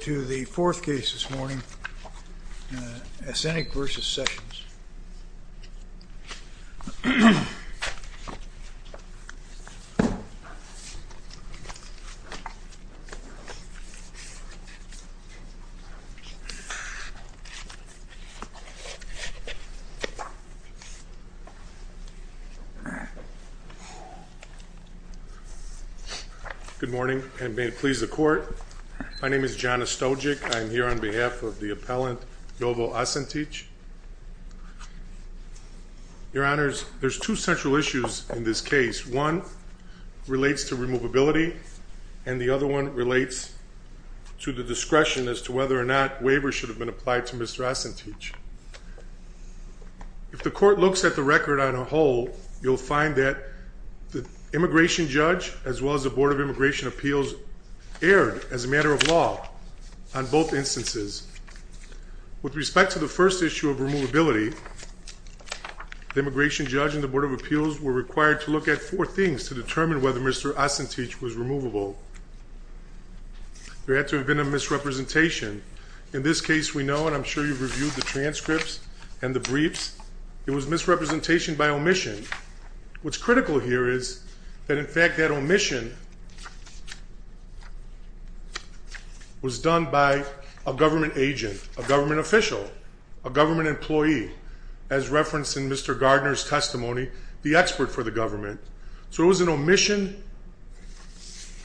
To the fourth case this morning, Asenic v. Sessions. Good morning, and may it please the court, my name is John Ostojic, I'm here on behalf of the appellant, Jovo Asentic. Your honors, there's two central issues in this case. One relates to removability, and the other one relates to the discretion as to whether or not waivers should have been applied to Mr. Asentic. If the court looks at the record on a whole, you'll find that the immigration judge as well as the Board of Immigration Appeals erred, as a matter of law, on both instances. With respect to the first issue of removability, the immigration judge and the Board of Appeals were required to look at four things to determine whether Mr. Asentic was removable. There had to have been a misrepresentation. In this case we know, and I'm sure you've reviewed the transcripts and the briefs, it was misrepresentation by omission. What's critical here is that in fact that omission was done by a government agent, a government official, a government employee, as referenced in Mr. Gardner's testimony, the expert for the government. So it was an omission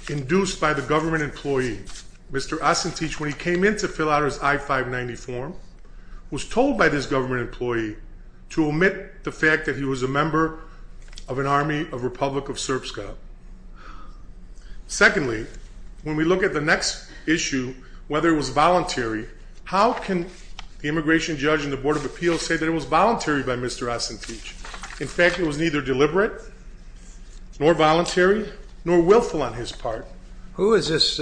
induced by the government employee. Mr. Asentic, when he came in to fill out his I-590 form, was told by this government employee to omit the fact that he was a member of an army of Republic of Srpska. Secondly, when we look at the next issue, whether it was voluntary, how can the immigration judge and the Board of Appeals say that it was voluntary by Mr. Asentic? In fact, it was neither deliberate, nor voluntary, nor willful on his part. Who is this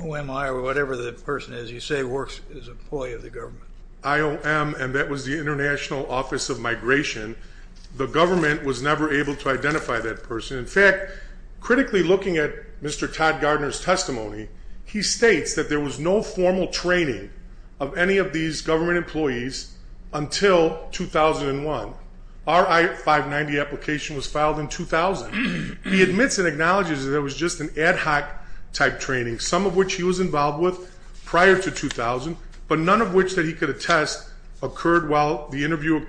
OMI or whatever the person is you say works as an employee of the government? IOM, and that was the International Office of Migration. The government was never able to identify that person. In fact, critically looking at Mr. Todd Gardner's testimony, he states that there was no formal training of any of these government employees until 2001. Our I-590 application was filed in 2000. He admits and acknowledges that it was just an ad hoc type training, some of which he was involved with prior to 2000. But none of which that he could attest occurred while the interview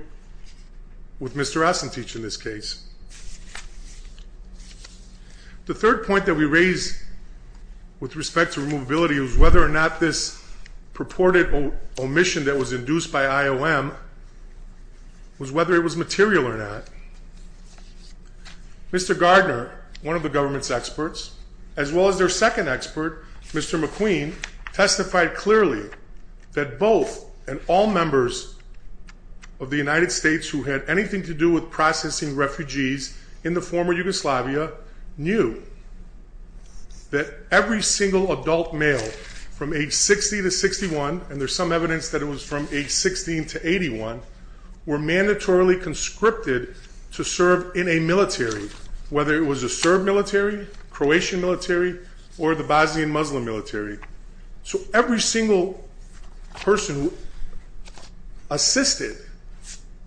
with Mr. Asentic in this case. The third point that we raise with respect to removability was whether or not this purported omission that was induced by IOM was whether it was material or not. Mr. Gardner, one of the government's experts, as well as their second expert, Mr. McQueen, testified clearly that both and all members of the United States who had anything to do with processing refugees in the former Yugoslavia knew that every single adult male from age 60 to 61, and there's some evidence that it was from age 16 to 81, were mandatorily conscripted to serve in a military, whether it was a Serb military, Croatian military, or the Bosnian Muslim military. So every single person who assisted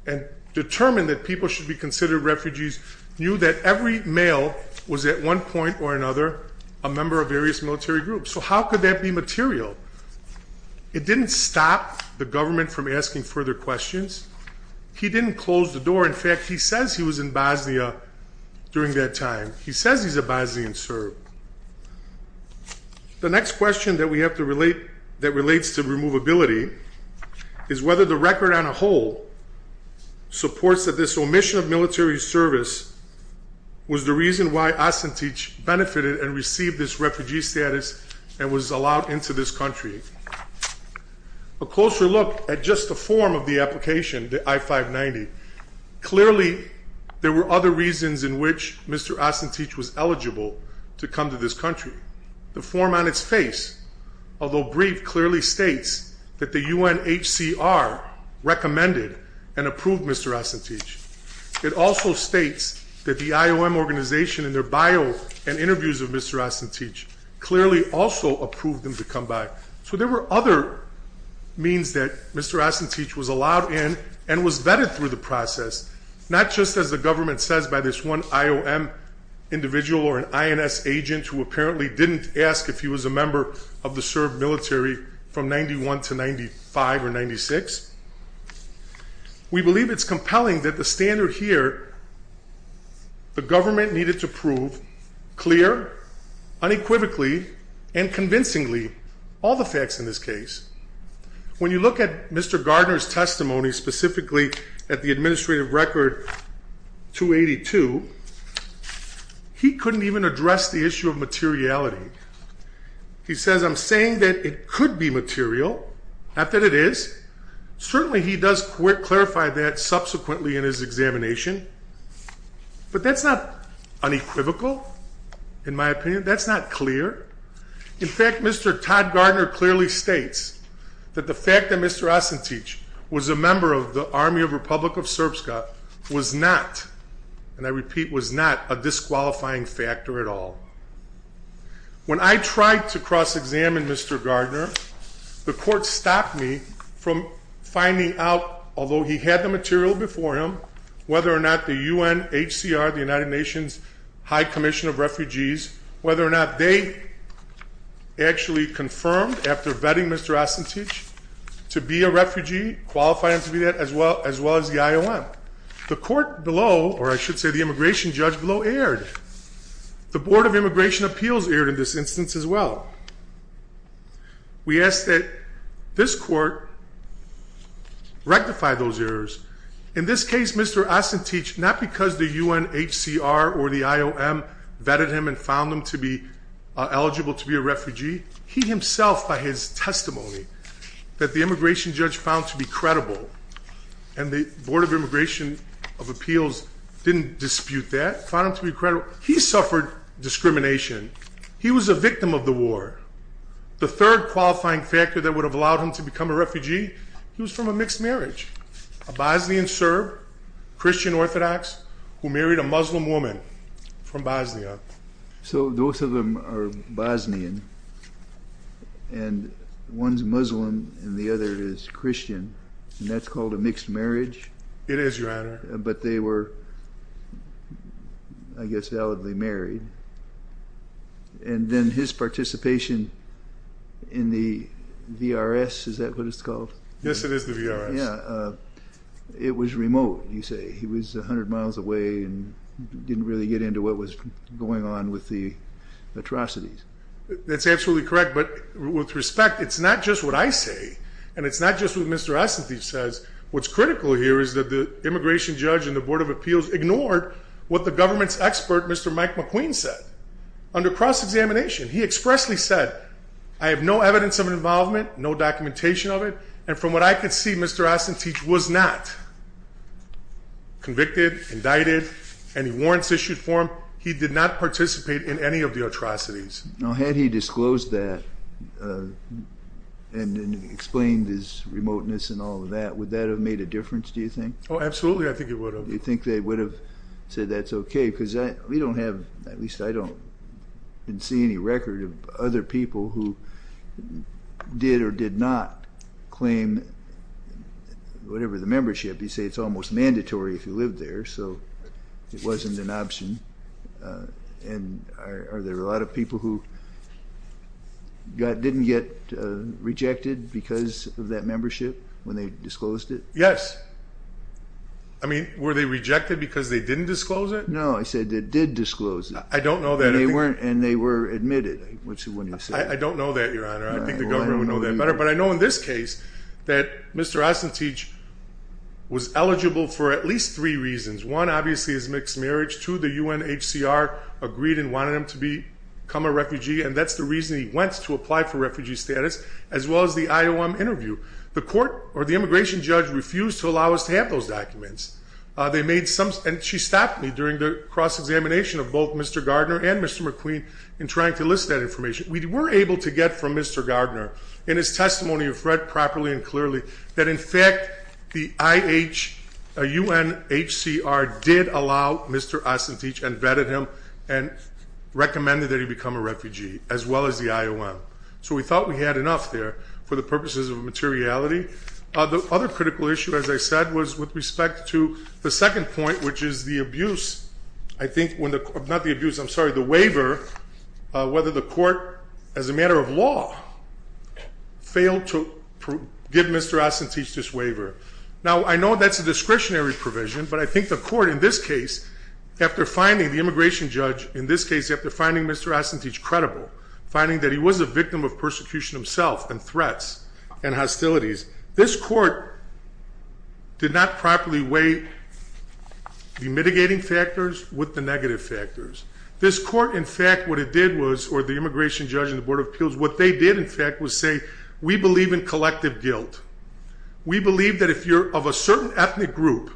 and determined that people should be considered refugees knew that every male was at one point or another a member of various military groups. So how could that be material? It didn't stop the government from asking further questions. He didn't close the door. In fact, he says he was in Bosnia during that time. He says he's a Bosnian Serb. The next question that relates to removability is whether the record on a whole supports that this omission of military service was the reason why Asantec benefited and received this refugee status and was allowed into this country. A closer look at just the form of the application, the I-590, clearly there were other reasons in which Mr. Asantec was eligible to come to this country. The form on its face, although brief, clearly states that the UNHCR recommended and approved Mr. Asantec. It also states that the IOM organization in their bio and interviews of Mr. Asantec clearly also approved him to come back. So there were other means that Mr. Asantec was allowed in and was vetted through the process. Not just as the government says by this one IOM individual or an INS agent who apparently didn't ask if he was a member of the Serb military from 91 to 95 or 96. We believe it's compelling that the standard here, the government needed to prove clear, unequivocally and convincingly, all the facts in this case. When you look at Mr. Gardner's testimony, specifically at the administrative record 282, he couldn't even address the issue of materiality. He says, I'm saying that it could be material, not that it is. Certainly he does clarify that subsequently in his examination, but that's not unequivocal, in my opinion, that's not clear. In fact, Mr. Todd Gardner clearly states that the fact that Mr. Asantec was a member of the Army of Republic of Serbska was not, and I repeat, was not a disqualifying factor at all. When I tried to cross-examine Mr. Gardner, the court stopped me from finding out, although he had the material before him, whether or not the UNHCR, the United Nations High Commission of Refugees, whether or not they actually confirmed after vetting Mr. Asantec to be a refugee, qualified him to be that, as well as the IOM. The court below, or I should say the immigration judge below, erred. The Board of Immigration Appeals erred in this instance as well. We ask that this court rectify those errors. In this case, Mr. Asantec, not because the UNHCR or the IOM vetted him and found him to be eligible to be a refugee, he himself, by his testimony, that the immigration judge found to be credible, and the Board of Immigration of Appeals didn't dispute that, found him to be credible, he suffered discrimination. He was a victim of the war. The third qualifying factor that would have allowed him to become a refugee, he was from a mixed marriage. A Bosnian Serb, Christian Orthodox, who married a Muslim woman from Bosnia. So both of them are Bosnian, and one's Muslim and the other is Christian, and that's called a mixed marriage? It is, Your Honor. But they were, I guess, validly married, and then his participation in the VRS, is that what it's called? Yes, it is the VRS. Yeah, it was remote, you say. He was 100 miles away and didn't really get into what was going on with the atrocities. That's absolutely correct, but with respect, it's not just what I say, and it's not just what Mr. Asantec says. What's critical here is that the immigration judge and the Board of Appeals ignored what the government's expert, Mr. Mike McQueen, said. Under cross-examination, he expressly said, I have no evidence of involvement, no documentation of it. And from what I could see, Mr. Asantec was not convicted, indicted, any warrants issued for him. He did not participate in any of the atrocities. Now, had he disclosed that and explained his remoteness and all of that, would that have made a difference, do you think? Oh, absolutely, I think it would have. Do you think they would have said that's okay? Because we don't have, at least I don't, I didn't see any record of other people who did or did not claim whatever the membership. You say it's almost mandatory if you live there, so it wasn't an option. And are there a lot of people who didn't get rejected because of that membership when they disclosed it? Yes. I mean, were they rejected because they didn't disclose it? No, I said they did disclose it. I don't know that. And they were admitted, which is what you said. I don't know that, Your Honor. I think the government would know that better. But I know in this case that Mr. Asantec was eligible for at least three reasons. One, obviously, is mixed marriage. Two, the UNHCR agreed and wanted him to become a refugee, and that's the reason he went to apply for refugee status, as well as the IOM interview. The court, or the immigration judge, refused to allow us to have those documents. They made some, and she stopped me during the cross-examination of both Mr. Gardner and Mr. McQueen in trying to list that information. We were able to get from Mr. Gardner, in his testimony, if read properly and UNHCR did allow Mr. Asantech and vetted him and recommended that he become a refugee, as well as the IOM. So we thought we had enough there for the purposes of materiality. The other critical issue, as I said, was with respect to the second point, which is the abuse. I think, not the abuse, I'm sorry, the waiver, whether the court, as a matter of law, failed to give Mr. Asantech this waiver. Now, I know that's a discretionary provision, but I think the court, in this case, after finding the immigration judge, in this case, after finding Mr. Asantech credible, finding that he was a victim of persecution himself and threats and hostilities. This court did not properly weigh the mitigating factors with the negative factors. This court, in fact, what it did was, or the immigration judge and the board of appeals, what they did, in fact, was say, we believe in collective guilt. We believe that if you're of a certain ethnic group,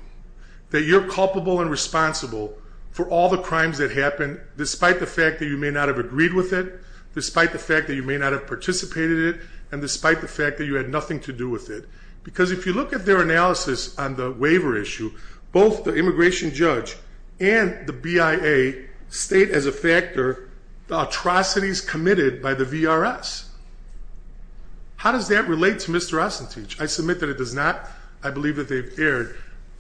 that you're culpable and responsible for all the crimes that happen, despite the fact that you may not have agreed with it, despite the fact that you may not have participated in it, and despite the fact that you had nothing to do with it. Because if you look at their analysis on the waiver issue, both the immigration judge and the BIA state as a factor the atrocities committed by the VRS. How does that relate to Mr. Asantech? I submit that it does not. I believe that they've erred.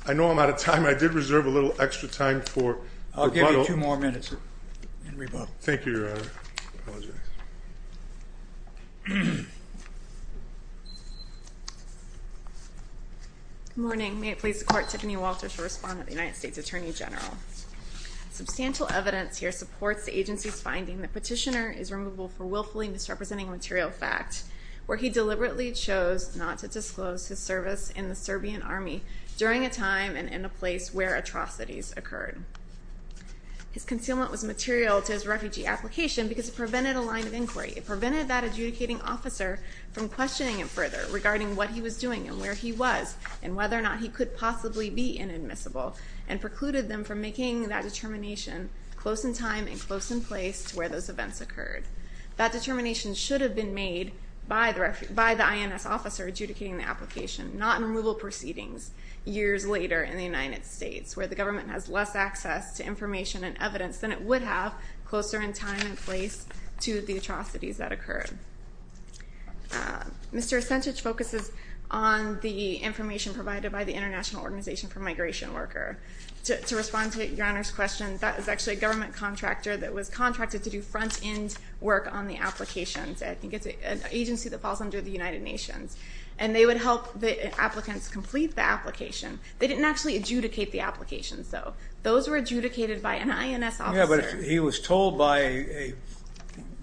I know I'm out of time. I did reserve a little extra time for rebuttal. I'll give you two more minutes, sir, in rebuttal. Thank you, Your Honor. Apologize. Good morning. May it please the court, Tiffany Walters will respond to the United States Attorney General. Substantial evidence here supports the agency's finding that Petitioner is removable for willfully misrepresenting material fact, where he deliberately chose not to disclose his service in the Serbian Army during a time and in a place where atrocities occurred. His concealment was material to his refugee application because it prevented a line of inquiry. It prevented that adjudicating officer from questioning him further regarding what he was doing and where he was, and whether or not he could possibly be inadmissible. And precluded them from making that determination close in time and close in place to where those events occurred. That determination should have been made by the INS officer adjudicating the application, not in removal proceedings years later in the United States, where the government has less access to information and evidence than it would have closer in time and place to the atrocities that occurred. Mr. Asantech focuses on the information provided by the International Organization for the Protection of Human Rights and the United Nations, which is a government contractor that was contracted to do front-end work on the applications. I think it's an agency that falls under the United Nations. And they would help the applicants complete the application. They didn't actually adjudicate the applications, though. Those were adjudicated by an INS officer. Yeah, but he was told by a,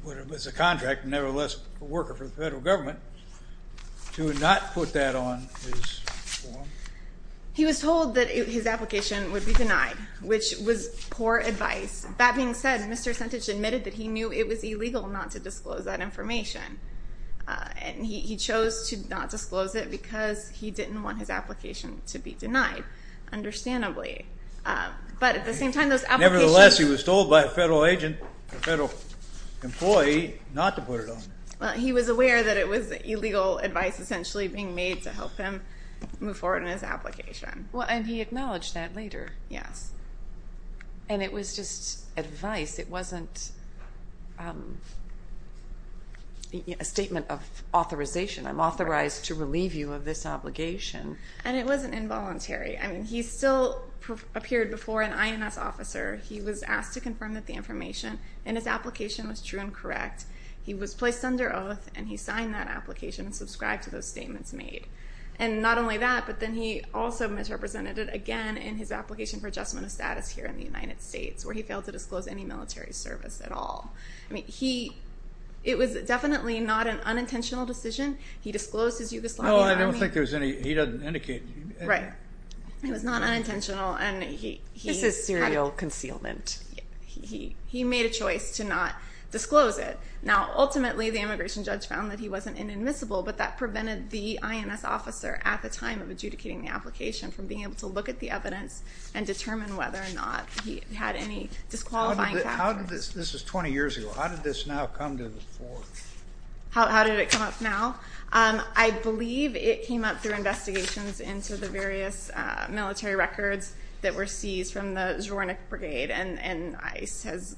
what was a contract, nevertheless, a worker for the federal government, to not put that on his form. He was told that his application would be denied, which was poor advice. That being said, Mr. Asantech admitted that he knew it was illegal not to disclose that information. And he chose to not disclose it because he didn't want his application to be denied, understandably. But at the same time, those applications- Nevertheless, he was told by a federal agent, a federal employee, not to put it on. Well, he was aware that it was illegal advice, essentially, being made to help him move forward in his application. Well, and he acknowledged that later. Yes. And it was just advice. It wasn't a statement of authorization. I'm authorized to relieve you of this obligation. And it wasn't involuntary. I mean, he still appeared before an INS officer. He was asked to confirm that the information in his application was true and correct. He was placed under oath, and he signed that application and subscribed to those statements made. And not only that, but then he also misrepresented it again in his application for adjustment of status here in the United States, where he failed to disclose any military service at all. I mean, it was definitely not an unintentional decision. He disclosed his Yugoslavian Army- No, I don't think there was any. He doesn't indicate- Right. It was not unintentional, and he- This is serial concealment. He made a choice to not disclose it. Now, ultimately, the immigration judge found that he wasn't inadmissible, but that prevented the INS officer at the time of adjudicating the application from being able to look at the evidence and determine whether or not he had any disqualifying factors. This is 20 years ago. How did this now come to the fore? How did it come up now? I believe it came up through investigations into the various military records that were and ICE has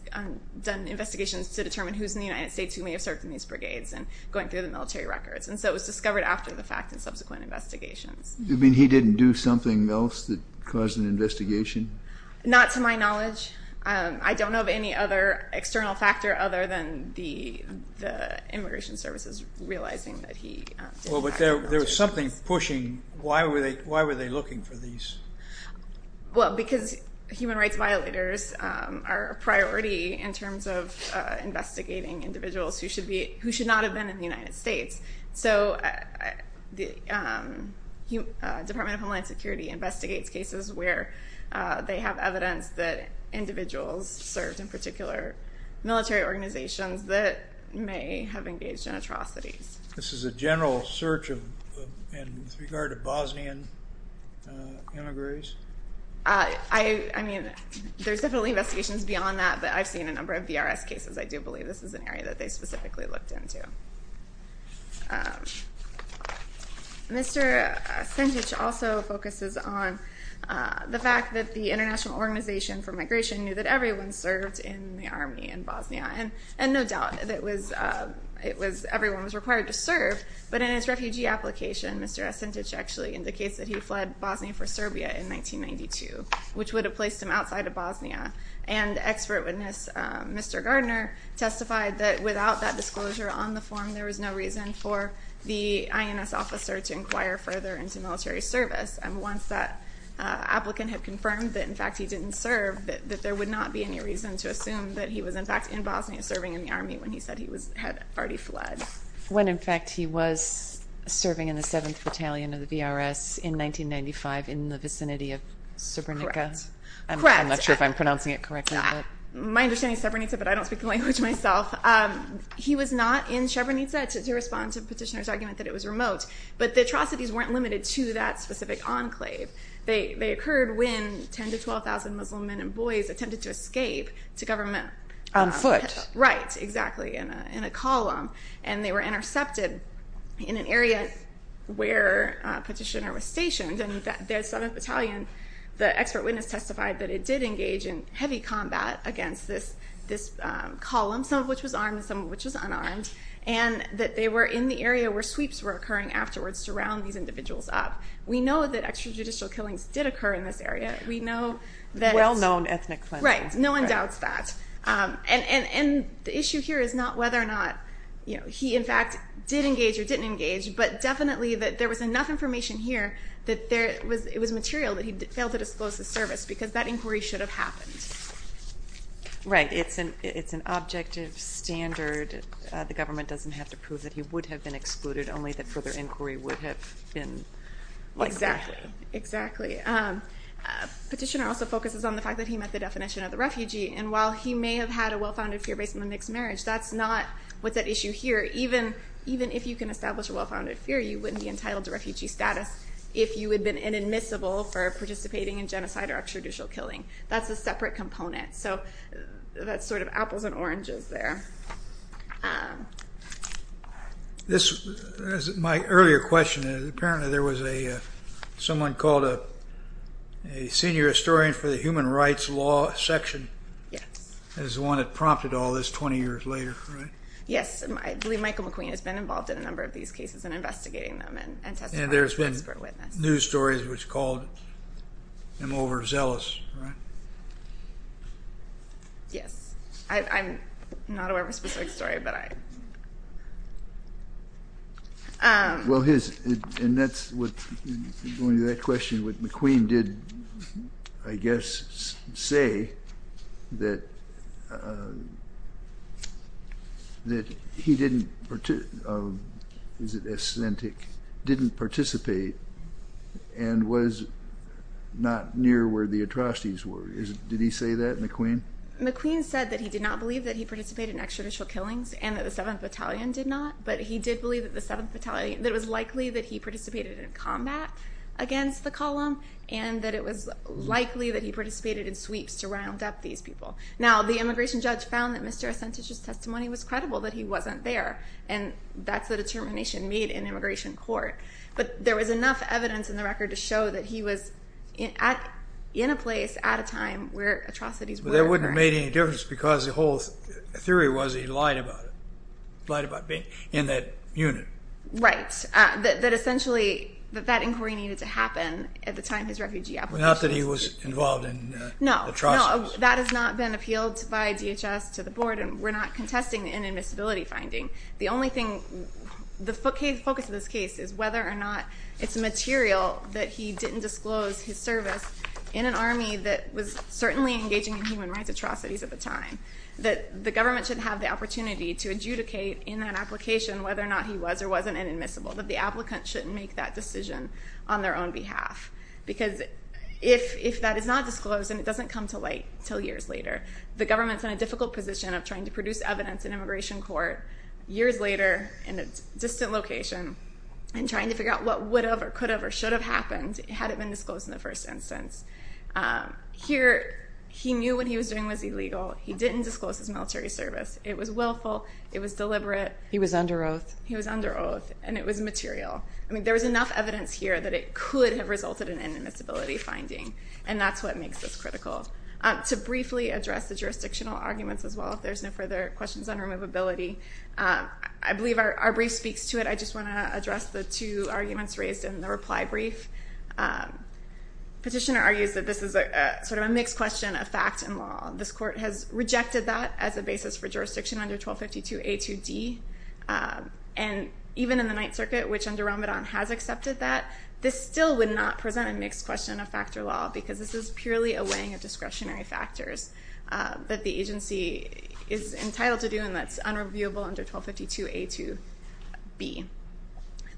done investigations to determine who's in the United States who may have served in these brigades and going through the military records, and so it was discovered after the fact in subsequent investigations. You mean he didn't do something else that caused an investigation? Not to my knowledge. I don't know of any other external factor other than the immigration services realizing that he- Well, but there was something pushing. Why were they looking for these? Well, because human rights violators are a priority in terms of investigating individuals who should not have been in the United States, so the Department of Homeland Security investigates cases where they have evidence that individuals served in particular military organizations that may have engaged in atrocities. This is a general search with regard to Bosnian immigrants? I mean, there's definitely investigations beyond that, but I've seen a number of VRS cases. I do believe this is an area that they specifically looked into. Mr. Sintic also focuses on the fact that the International Organization for Migration knew that everyone served in the army in Bosnia, and no doubt everyone was required to serve, but in his refugee application, Mr. Sintic actually indicates that he fled Bosnia for Serbia in 1992, which would have placed him outside of Bosnia. And expert witness Mr. Gardner testified that without that disclosure on the form, there was no reason for the INS officer to inquire further into military service, and once that was confirmed, there would not be any reason to assume that he was in fact in Bosnia serving in the army when he said he had already fled. When in fact he was serving in the 7th Battalion of the VRS in 1995 in the vicinity of Srebrenica? Correct. I'm not sure if I'm pronouncing it correctly. My understanding is Srebrenica, but I don't speak the language myself. He was not in Srebrenica to respond to the petitioner's argument that it was remote, but the atrocities weren't limited to that specific enclave. They occurred when 10,000 to 12,000 Muslim men and boys attempted to escape to government On foot. Right. Exactly. In a column. And they were intercepted in an area where a petitioner was stationed, and the 7th Battalion, the expert witness testified that it did engage in heavy combat against this column, some of which was armed and some of which was unarmed, and that they were in the area where sweeps were occurring afterwards to round these individuals up. We know that extrajudicial killings did occur in this area. We know that... Well-known ethnic cleansing. Right. No one doubts that. And the issue here is not whether or not he in fact did engage or didn't engage, but definitely that there was enough information here that it was material that he failed to disclose the service, because that inquiry should have happened. Right. It's an objective standard. The government doesn't have to prove that he would have been excluded, only that further inquiry would have been... Exactly. Exactly. Petitioner also focuses on the fact that he met the definition of the refugee, and while he may have had a well-founded fear based on the mixed marriage, that's not what's at issue here. Even if you can establish a well-founded fear, you wouldn't be entitled to refugee status if you had been inadmissible for participating in genocide or extrajudicial killing. That's a separate component. So that's sort of apples and oranges there. My earlier question is, apparently there was someone called a Senior Historian for the Human Rights Law Section as the one that prompted all this 20 years later, right? Yes. I believe Michael McQueen has been involved in a number of these cases and investigating them and testifying as an expert witness. And there's been news stories which called him overzealous, right? Yes. I'm not aware of a specific story, but I... Well his... And that's what... Going to that question, McQueen did, I guess, say that he didn't participate and was not near where the atrocities were. Did he say that, McQueen? McQueen said that he did not believe that he participated in extrajudicial killings and that the 7th Battalion did not, but he did believe that it was likely that he participated in combat against the column and that it was likely that he participated in sweeps to round up these people. Now, the immigration judge found that Mr. Ascentich's testimony was credible that he wasn't there, and that's the determination made in immigration court. But there was enough evidence in the record to show that he was in a place at a time where atrocities were occurring. But that wouldn't have made any difference because the whole theory was that he lied about it, lied about being in that unit. Right. That essentially, that inquiry needed to happen at the time his refugee application was... Not that he was involved in atrocities. No, no. That has not been appealed by DHS to the board, and we're not contesting an admissibility finding. The only thing... The focus of this case is whether or not it's material that he didn't disclose his service in an army that was certainly engaging in human rights atrocities at the time, that the government should have the opportunity to adjudicate in that application whether or not he was or wasn't an admissible, that the applicant shouldn't make that decision on their own behalf. Because if that is not disclosed, and it doesn't come to light until years later, the government's in a difficult position of trying to produce evidence in immigration court years later in a distant location and trying to figure out what would have or could have or should have happened had it been disclosed in the first instance. Here, he knew what he was doing was illegal. He didn't disclose his military service. It was willful. It was deliberate. He was under oath. He was under oath. And it was material. I mean, there was enough evidence here that it could have resulted in an admissibility finding, and that's what makes this critical. To briefly address the jurisdictional arguments as well, if there's no further questions on removability, I believe our brief speaks to it. I just want to address the two arguments raised in the reply brief. Petitioner argues that this is sort of a mixed question of fact and law. This court has rejected that as a basis for jurisdiction under 1252A2D. And even in the Ninth Circuit, which under Ramadan has accepted that, this still would not present a mixed question of factor law, because this is purely a weighing of discretionary that the agency is entitled to do, and that's unreviewable under 1252A2B.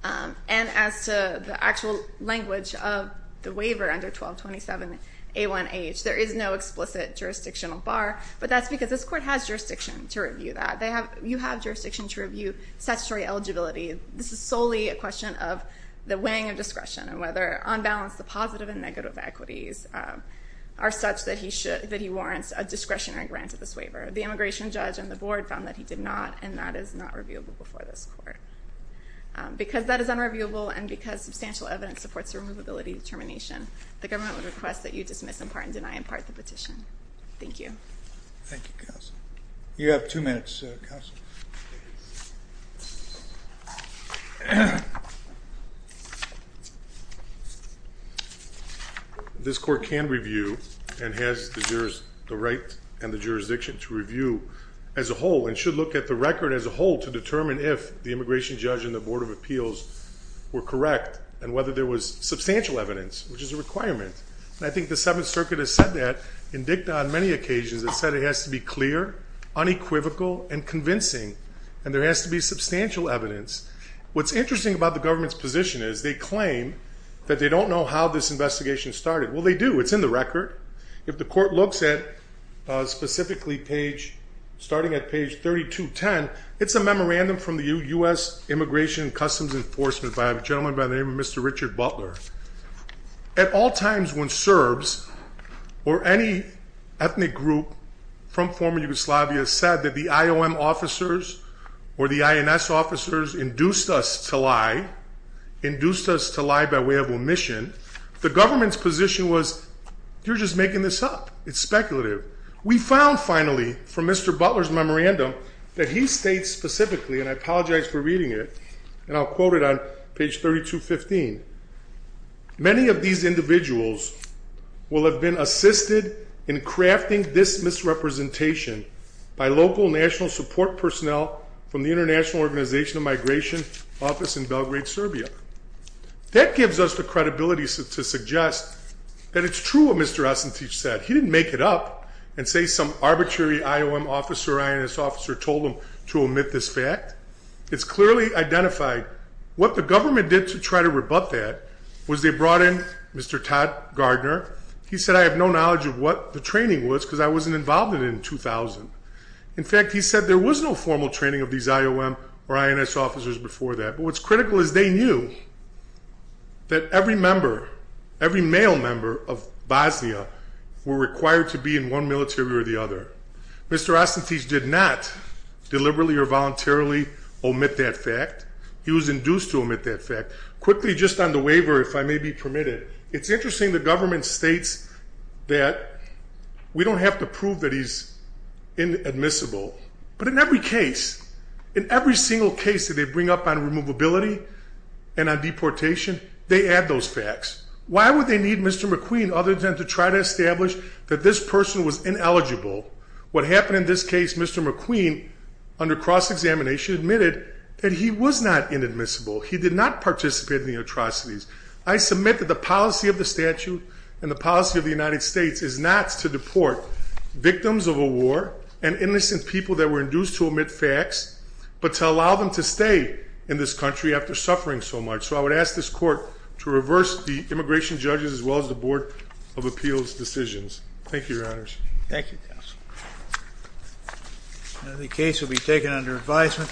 And as to the actual language of the waiver under 1227A1H, there is no explicit jurisdictional bar, but that's because this court has jurisdiction to review that. You have jurisdiction to review statutory eligibility. This is solely a question of the weighing of discretion and whether, on balance, the discretionary grant of this waiver. The immigration judge and the board found that he did not, and that is not reviewable before this court. Because that is unreviewable, and because substantial evidence supports the removability determination, the government would request that you dismiss, impart, and deny in part the petition. Thank you. Thank you, Counsel. You have two minutes, Counsel. Thank you. This court can review and has the right and the jurisdiction to review as a whole, and should look at the record as a whole to determine if the immigration judge and the board of appeals were correct, and whether there was substantial evidence, which is a requirement. And I think the Seventh Circuit has said that, and dicta on many occasions, has said it has to be clear, unequivocal, and convincing, and there has to be substantial evidence. What's interesting about the government's position is they claim that they don't know how this investigation started. Well, they do. It's in the record. If the court looks at specifically page, starting at page 3210, it's a memorandum from the U.S. Immigration and Customs Enforcement by a gentleman by the name of Mr. Richard Butler. At all times when Serbs or any ethnic group from former Yugoslavia said that the IOM officers or the INS officers induced us to lie, induced us to lie by way of omission, the government's position was, you're just making this up. It's speculative. We found, finally, from Mr. Butler's memorandum, that he states specifically, and I apologize for reading it, and I'll quote it on page 3215, many of these individuals will have been assisted in crafting this misrepresentation by local national support personnel from the International Organization of Migration office in Belgrade, Serbia. That gives us the credibility to suggest that it's true what Mr. Ossentić said. He didn't make it up and say some arbitrary IOM officer or INS officer told him to omit this fact. It's clearly identified. What the government did to try to rebut that was they brought in Mr. Todd Gardner. He said, I have no knowledge of what the training was because I wasn't involved in it in 2000. In fact, he said there was no formal training of these IOM or INS officers before that. But what's critical is they knew that every member, every male member of Bosnia were required to be in one military or the other. Mr. Ossentić did not deliberately or voluntarily omit that fact. He was induced to omit that fact. Quickly, just on the waiver, if I may be permitted, it's interesting the government states that we don't have to prove that he's inadmissible. But in every case, in every single case that they bring up on removability and on deportation, they add those facts. Why would they need Mr. McQueen other than to try to establish that this person was ineligible? What happened in this case, Mr. McQueen, under cross-examination, admitted that he was not inadmissible. He did not participate in the atrocities. I submit that the policy of the statute and the policy of the United States is not to deport victims of a war and innocent people that were induced to omit facts, but to allow them to stay in this country after suffering so much. So I would ask this Court to reverse the immigration judges as well as the Board of Appeals' decisions. Thank you, Your Honors. Thank you, counsel. The case will be taken under advisement.